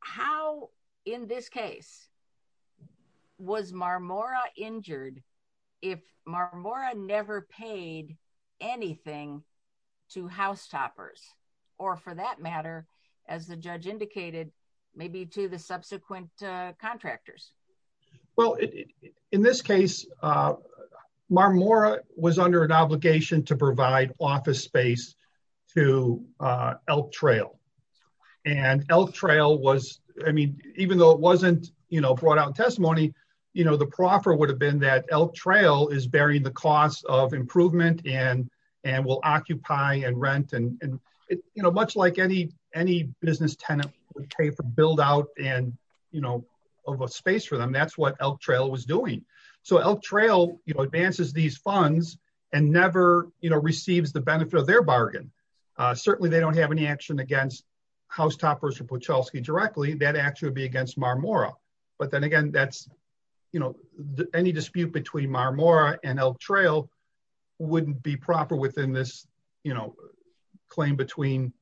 how, in this case, was Marmora injured if Marmora never paid anything to housetoppers, or for that matter, as the judge indicated, maybe to the subsequent contractors? Well, in this case, Marmora was under an obligation to provide office space to Elk Trail. And Elk Trail was, I mean, even though it wasn't, you know, brought out in testimony, you know, the proffer would have been that Elk Trail is bearing the cost of improvement and will occupy and rent. And, you know, much like any business tenant would pay for build out and, you know, have a space for them. That's what Elk Trail was doing. So Elk Trail, you know, advances these funds and never, you know, receives the benefit of their bargain. Certainly, they don't have any action against housetoppers or Pucholsky directly, that actually would be against Marmora. But then again, that's, you know, any dispute between Marmora and Elk Trail wouldn't be proper within this, you know, claim between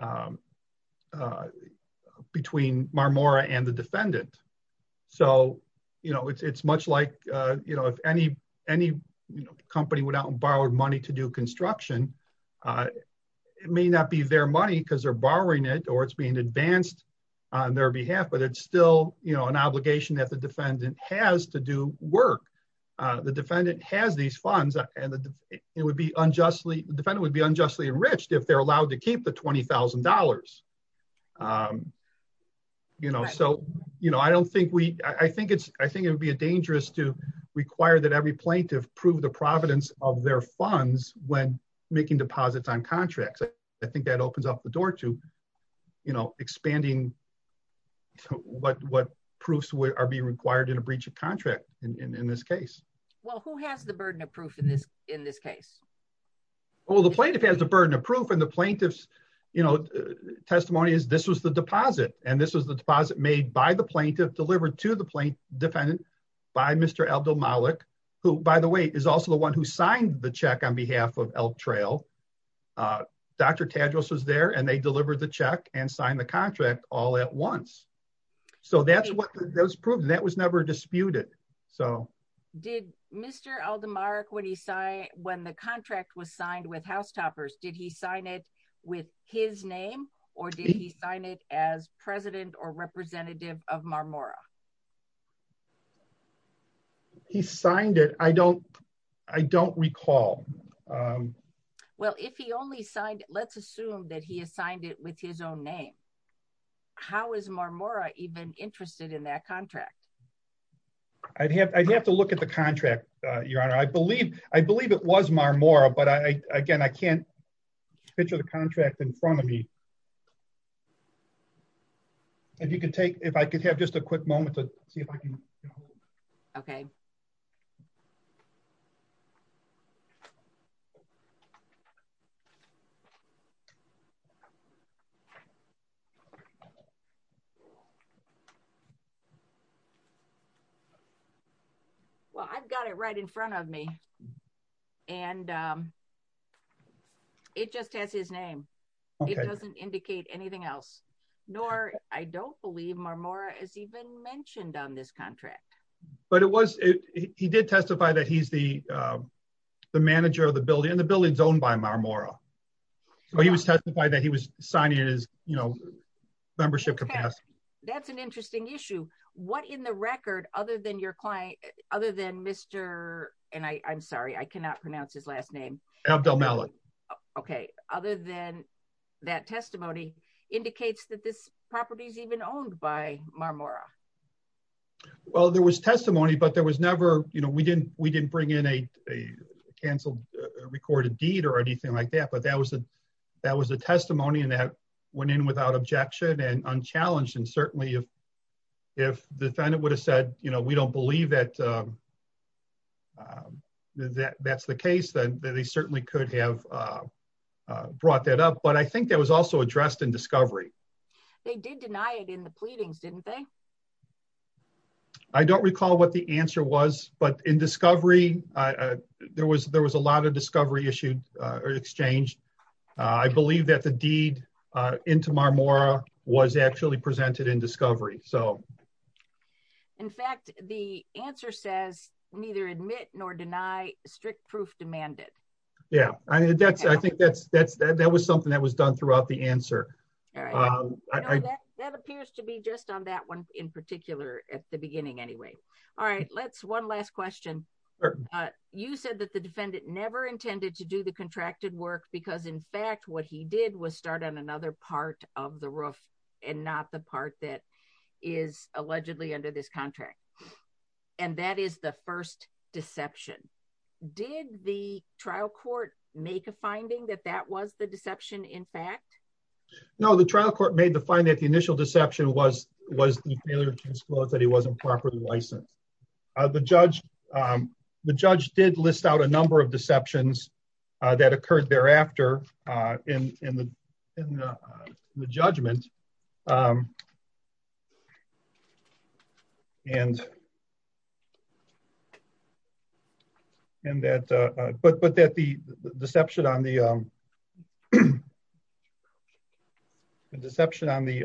Marmora and the defendant. So, you know, it's much like, you know, if any company went out and borrowed money to do construction, it may not be their money because they're borrowing it or it's being advanced on their behalf, but it's still, you know, an obligation that the defendant has to do work. The defendant has these funds and it would be unjustly, the defendant would be unjustly enriched if they're allowed to keep the $20,000. You know, so, you know, I don't think we, I think it's, I think it would be dangerous to require that every plaintiff prove the providence of their funds when making deposits on contracts. I think that opens up the door to, you know, expanding what proofs are being required in a breach of contract in this case. Well, who has the burden of proof in this case? Well, the plaintiff has the burden of proof and the plaintiff's, you know, testimony is this was the deposit and this was the deposit made by the plaintiff, delivered to the plaintiff defendant by Mr. Abdel-Malik, who, by the way, is also the one who signed the check on behalf of Elk Trail. Dr. Tadros was there and they delivered the check and signed the contract all at once. So that's what, that was proven, that was never disputed. So. Did Mr. Abdel-Malik, when he signed, when the contract was signed with Housetoppers, did he sign it with his name or did he sign it as president or representative of Marmora? He signed it. I don't, I don't recall. Well, if he only signed, let's assume that he assigned it with his own name. How is Marmora even interested in that contract? I'd have, I'd have to look at the contract, Your Honor. I believe, I believe it was Marmora, but I, again, I can't picture the contract in front of me. If you could take, if I could have just a quick moment to see if I can. Okay. Well, I've got it right in front of me and it just has his name. It doesn't indicate anything else. Nor, I don't believe Marmora is even mentioned on this contract. But it was, he did testify that he's the, the manager of the building and the building's owned by Marmora. So he was testifying that he was signing it as, you know, membership capacity. That's an interesting issue. What in the record, other than your client, other than Mr. and I, I'm sorry, I cannot pronounce his last name. Abdelmalek. Okay. Other than that testimony indicates that this property is even owned by Marmora. Well, there was testimony, but there was never, you know, we didn't, we didn't bring in a, a canceled recorded deed or anything like that. But that was a, that was a testimony and that went in without objection and unchallenged. And certainly if, if the defendant would have said, you know, we don't believe that, that that's the case, then they certainly could have brought that up. But I think that was also addressed in discovery. They did deny it in the pleadings, didn't they? I don't recall what the answer was, but in discovery, there was, there was a lot of discovery issued or exchanged. I believe that the deed into Marmora was actually presented in discovery. So. In fact, the answer says neither admit nor deny strict proof demanded. Yeah. I mean, that's, I think that's, that's, that was something that was done throughout the answer. That appears to be just on that one in particular at the beginning anyway. All right, let's one last question. You said that the defendant never intended to do the contracted work because in fact what he did was start on another part of the roof and not the part that is allegedly under this contract. And that is the first deception. Did the trial court make a finding that that was the deception in fact? No, the trial court made the finding that the initial deception was, was the failure to disclose that he wasn't properly licensed. The judge, the judge did list out a number of deceptions that occurred thereafter in the judgment. And. And that, but, but that the deception on the Deception on the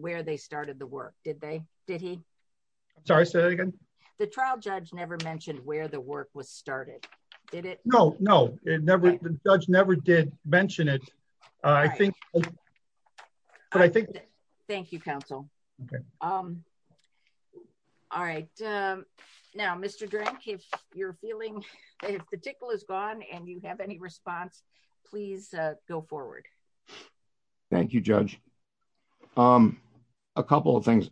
Where they started the work, did they, did he Sorry, say that again. The trial judge never mentioned where the work was started. No, no, it never judge never did mention it. I think Thank you, counsel. Okay. All right. Now, Mr. Drake, if you're feeling the tickle is gone and you have any response, please go forward. Thank you, Judge. A couple of things.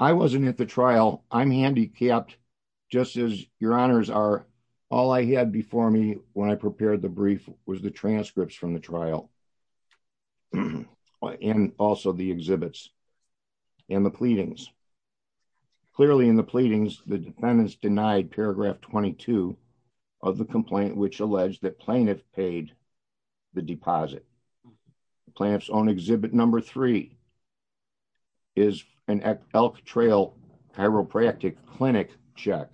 I wasn't at the trial. I'm handicapped, just as your honors are all I had before me when I prepared the brief was the transcripts from the trial. And also the exhibits and the pleadings. Clearly in the pleadings, the defendants denied paragraph 22 of the complaint, which alleged that plaintiff paid the deposit plants on exhibit number three is an elk trail chiropractic clinic check.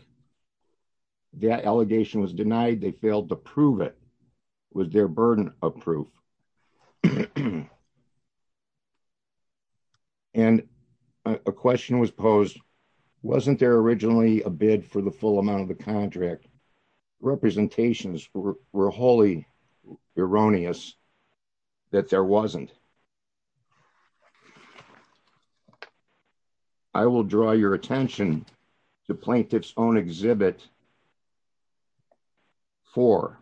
That allegation was denied. They failed to prove it was their burden of proof. And a question was posed wasn't there originally a bid for the full amount of the contract representations were were wholly erroneous that there wasn't I will draw your attention to plaintiffs own exhibit for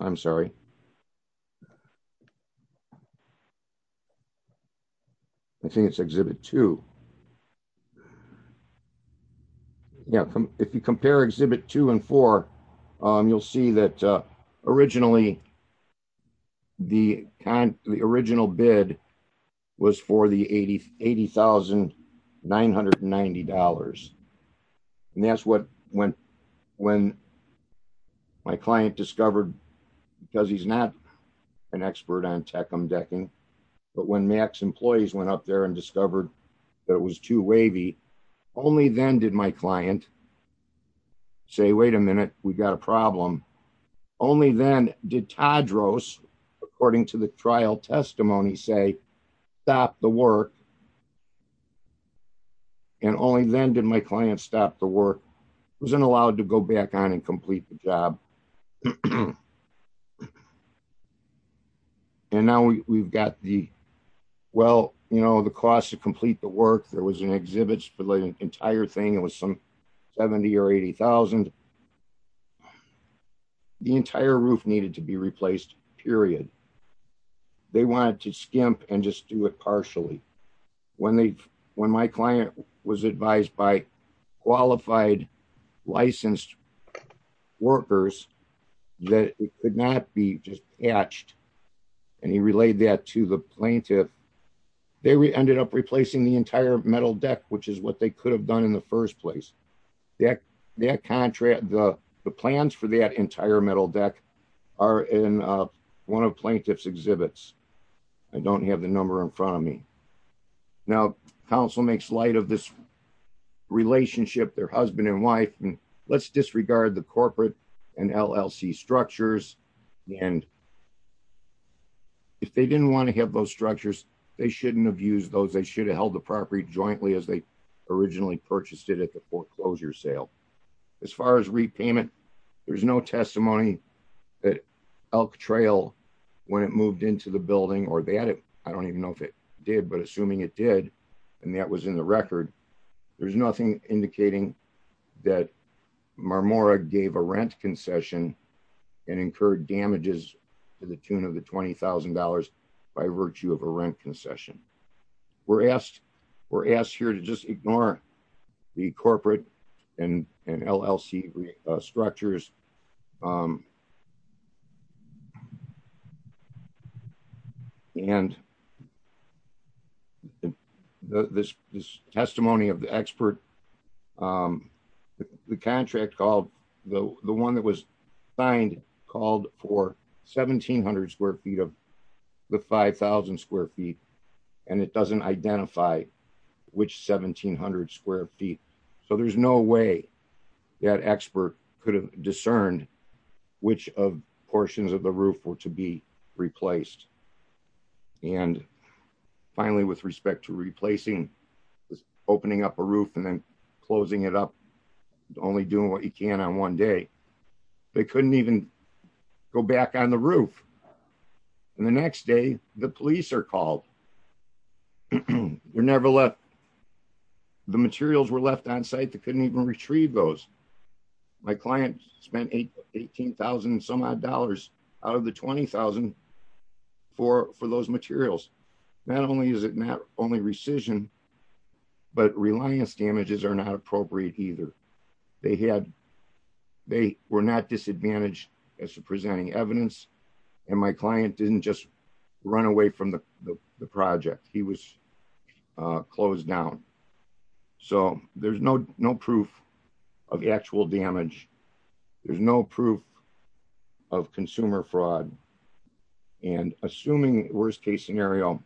I'm sorry. I think it's exhibit to Yeah, if you compare exhibit two and four, you'll see that originally The original bid was for the 80 $80,990 and that's what went when My client discovered because he's not an expert on tech I'm decking. But when Max employees went up there and discovered that it was too wavy only then did my client. Say wait a minute, we got a problem. Only then did Todd rose, according to the trial testimony say that the work And only then did my client stop the work wasn't allowed to go back on and complete the job. And now we've got the well you know the cost to complete the work. There was an exhibits for the entire thing. It was some 70 or 80,000 The entire roof needed to be replaced, period. They wanted to skimp and just do it partially when they when my client was advised by qualified licensed Workers that it could not be just etched and he relayed that to the plaintiff. They ended up replacing the entire metal deck, which is what they could have done in the first place. That contract the plans for that entire metal deck are in one of plaintiff's exhibits. I don't have the number in front of me. Now, Council makes light of this relationship, their husband and wife and let's disregard the corporate and LLC structures and If they didn't want to have those structures, they shouldn't have used those they should have held the property jointly as they originally purchased it at the foreclosure sale. As far as repayment. There's no testimony that elk trail when it moved into the building or they added. I don't even know if it did, but assuming it did. And that was in the record. There's nothing indicating that Marmora gave a rent concession and incurred damages to the tune of the $20,000 by virtue of a rent concession. We're asked, we're asked here to just ignore the corporate and LLC structures. This testimony of the expert. The contract called the one that was signed called for 1700 square feet of the 5000 square feet, and it doesn't identify which 1700 square feet. So there's no way that expert could have discerned which of portions of the roof or to be replaced. And finally, with respect to replacing opening up a roof and then closing it up only doing what you can on one day, they couldn't even go back on the roof. The next day, the police are called. We're never left. The materials were left on site that couldn't even retrieve those my client spent a 18,000 some odd dollars out of the 20,000 for for those materials, not only is it not only rescission, but reliance damages are not appropriate either. They had, they were not disadvantaged as to presenting evidence, and my client didn't just run away from the project, he was closed down. So, there's no, no proof of actual damage. There's no proof of consumer fraud and assuming worst case scenario,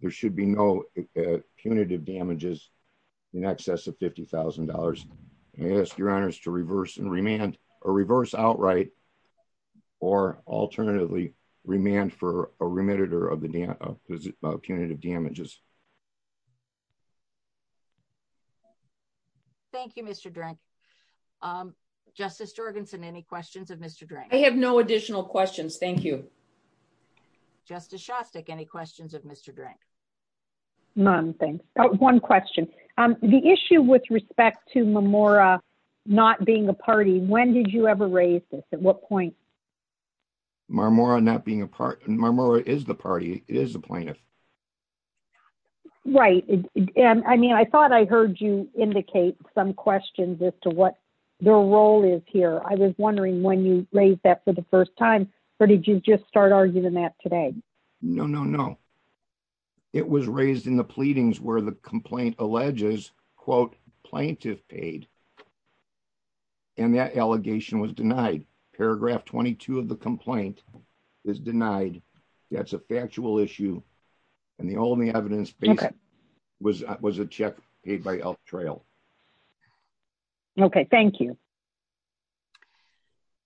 there should be no punitive damages in excess of $50,000. I ask your honors to reverse and remand or reverse outright, or alternatively, remand for a remitted or of the punitive damages. Thank you, Mr. Justice Jorgensen any questions of Mr. I have no additional questions. Thank you. Justice Shostak any questions of Mr. Mom, thanks. One question. The issue with respect to Memorial, not being a party, when did you ever raise this at what point. More on that being a part of my moral is the party is a plaintiff. Right. And I mean I thought I heard you indicate some questions as to what their role is here I was wondering when you raised that for the first time, or did you just start arguing that today. No, no, no. It was raised in the pleadings where the complaint alleges quote plaintiff paid. And that allegation was denied paragraph 22 of the complaint is denied. That's a factual issue. And the only evidence was, was a check paid by trail. Okay, thank you.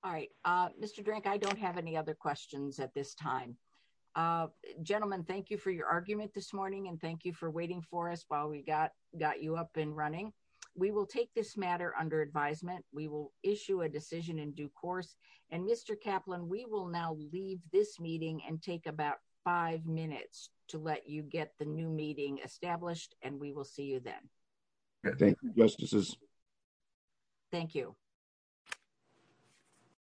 All right, Mr drink I don't have any other questions at this time. Gentlemen, thank you for your argument this morning and thank you for waiting for us while we got got you up and running. We will take this matter under advisement, we will issue a decision in due course, and Mr Kaplan we will now leave this meeting and take about five minutes to let you get the new meeting established, and we will see you then. Thank you. Thank you.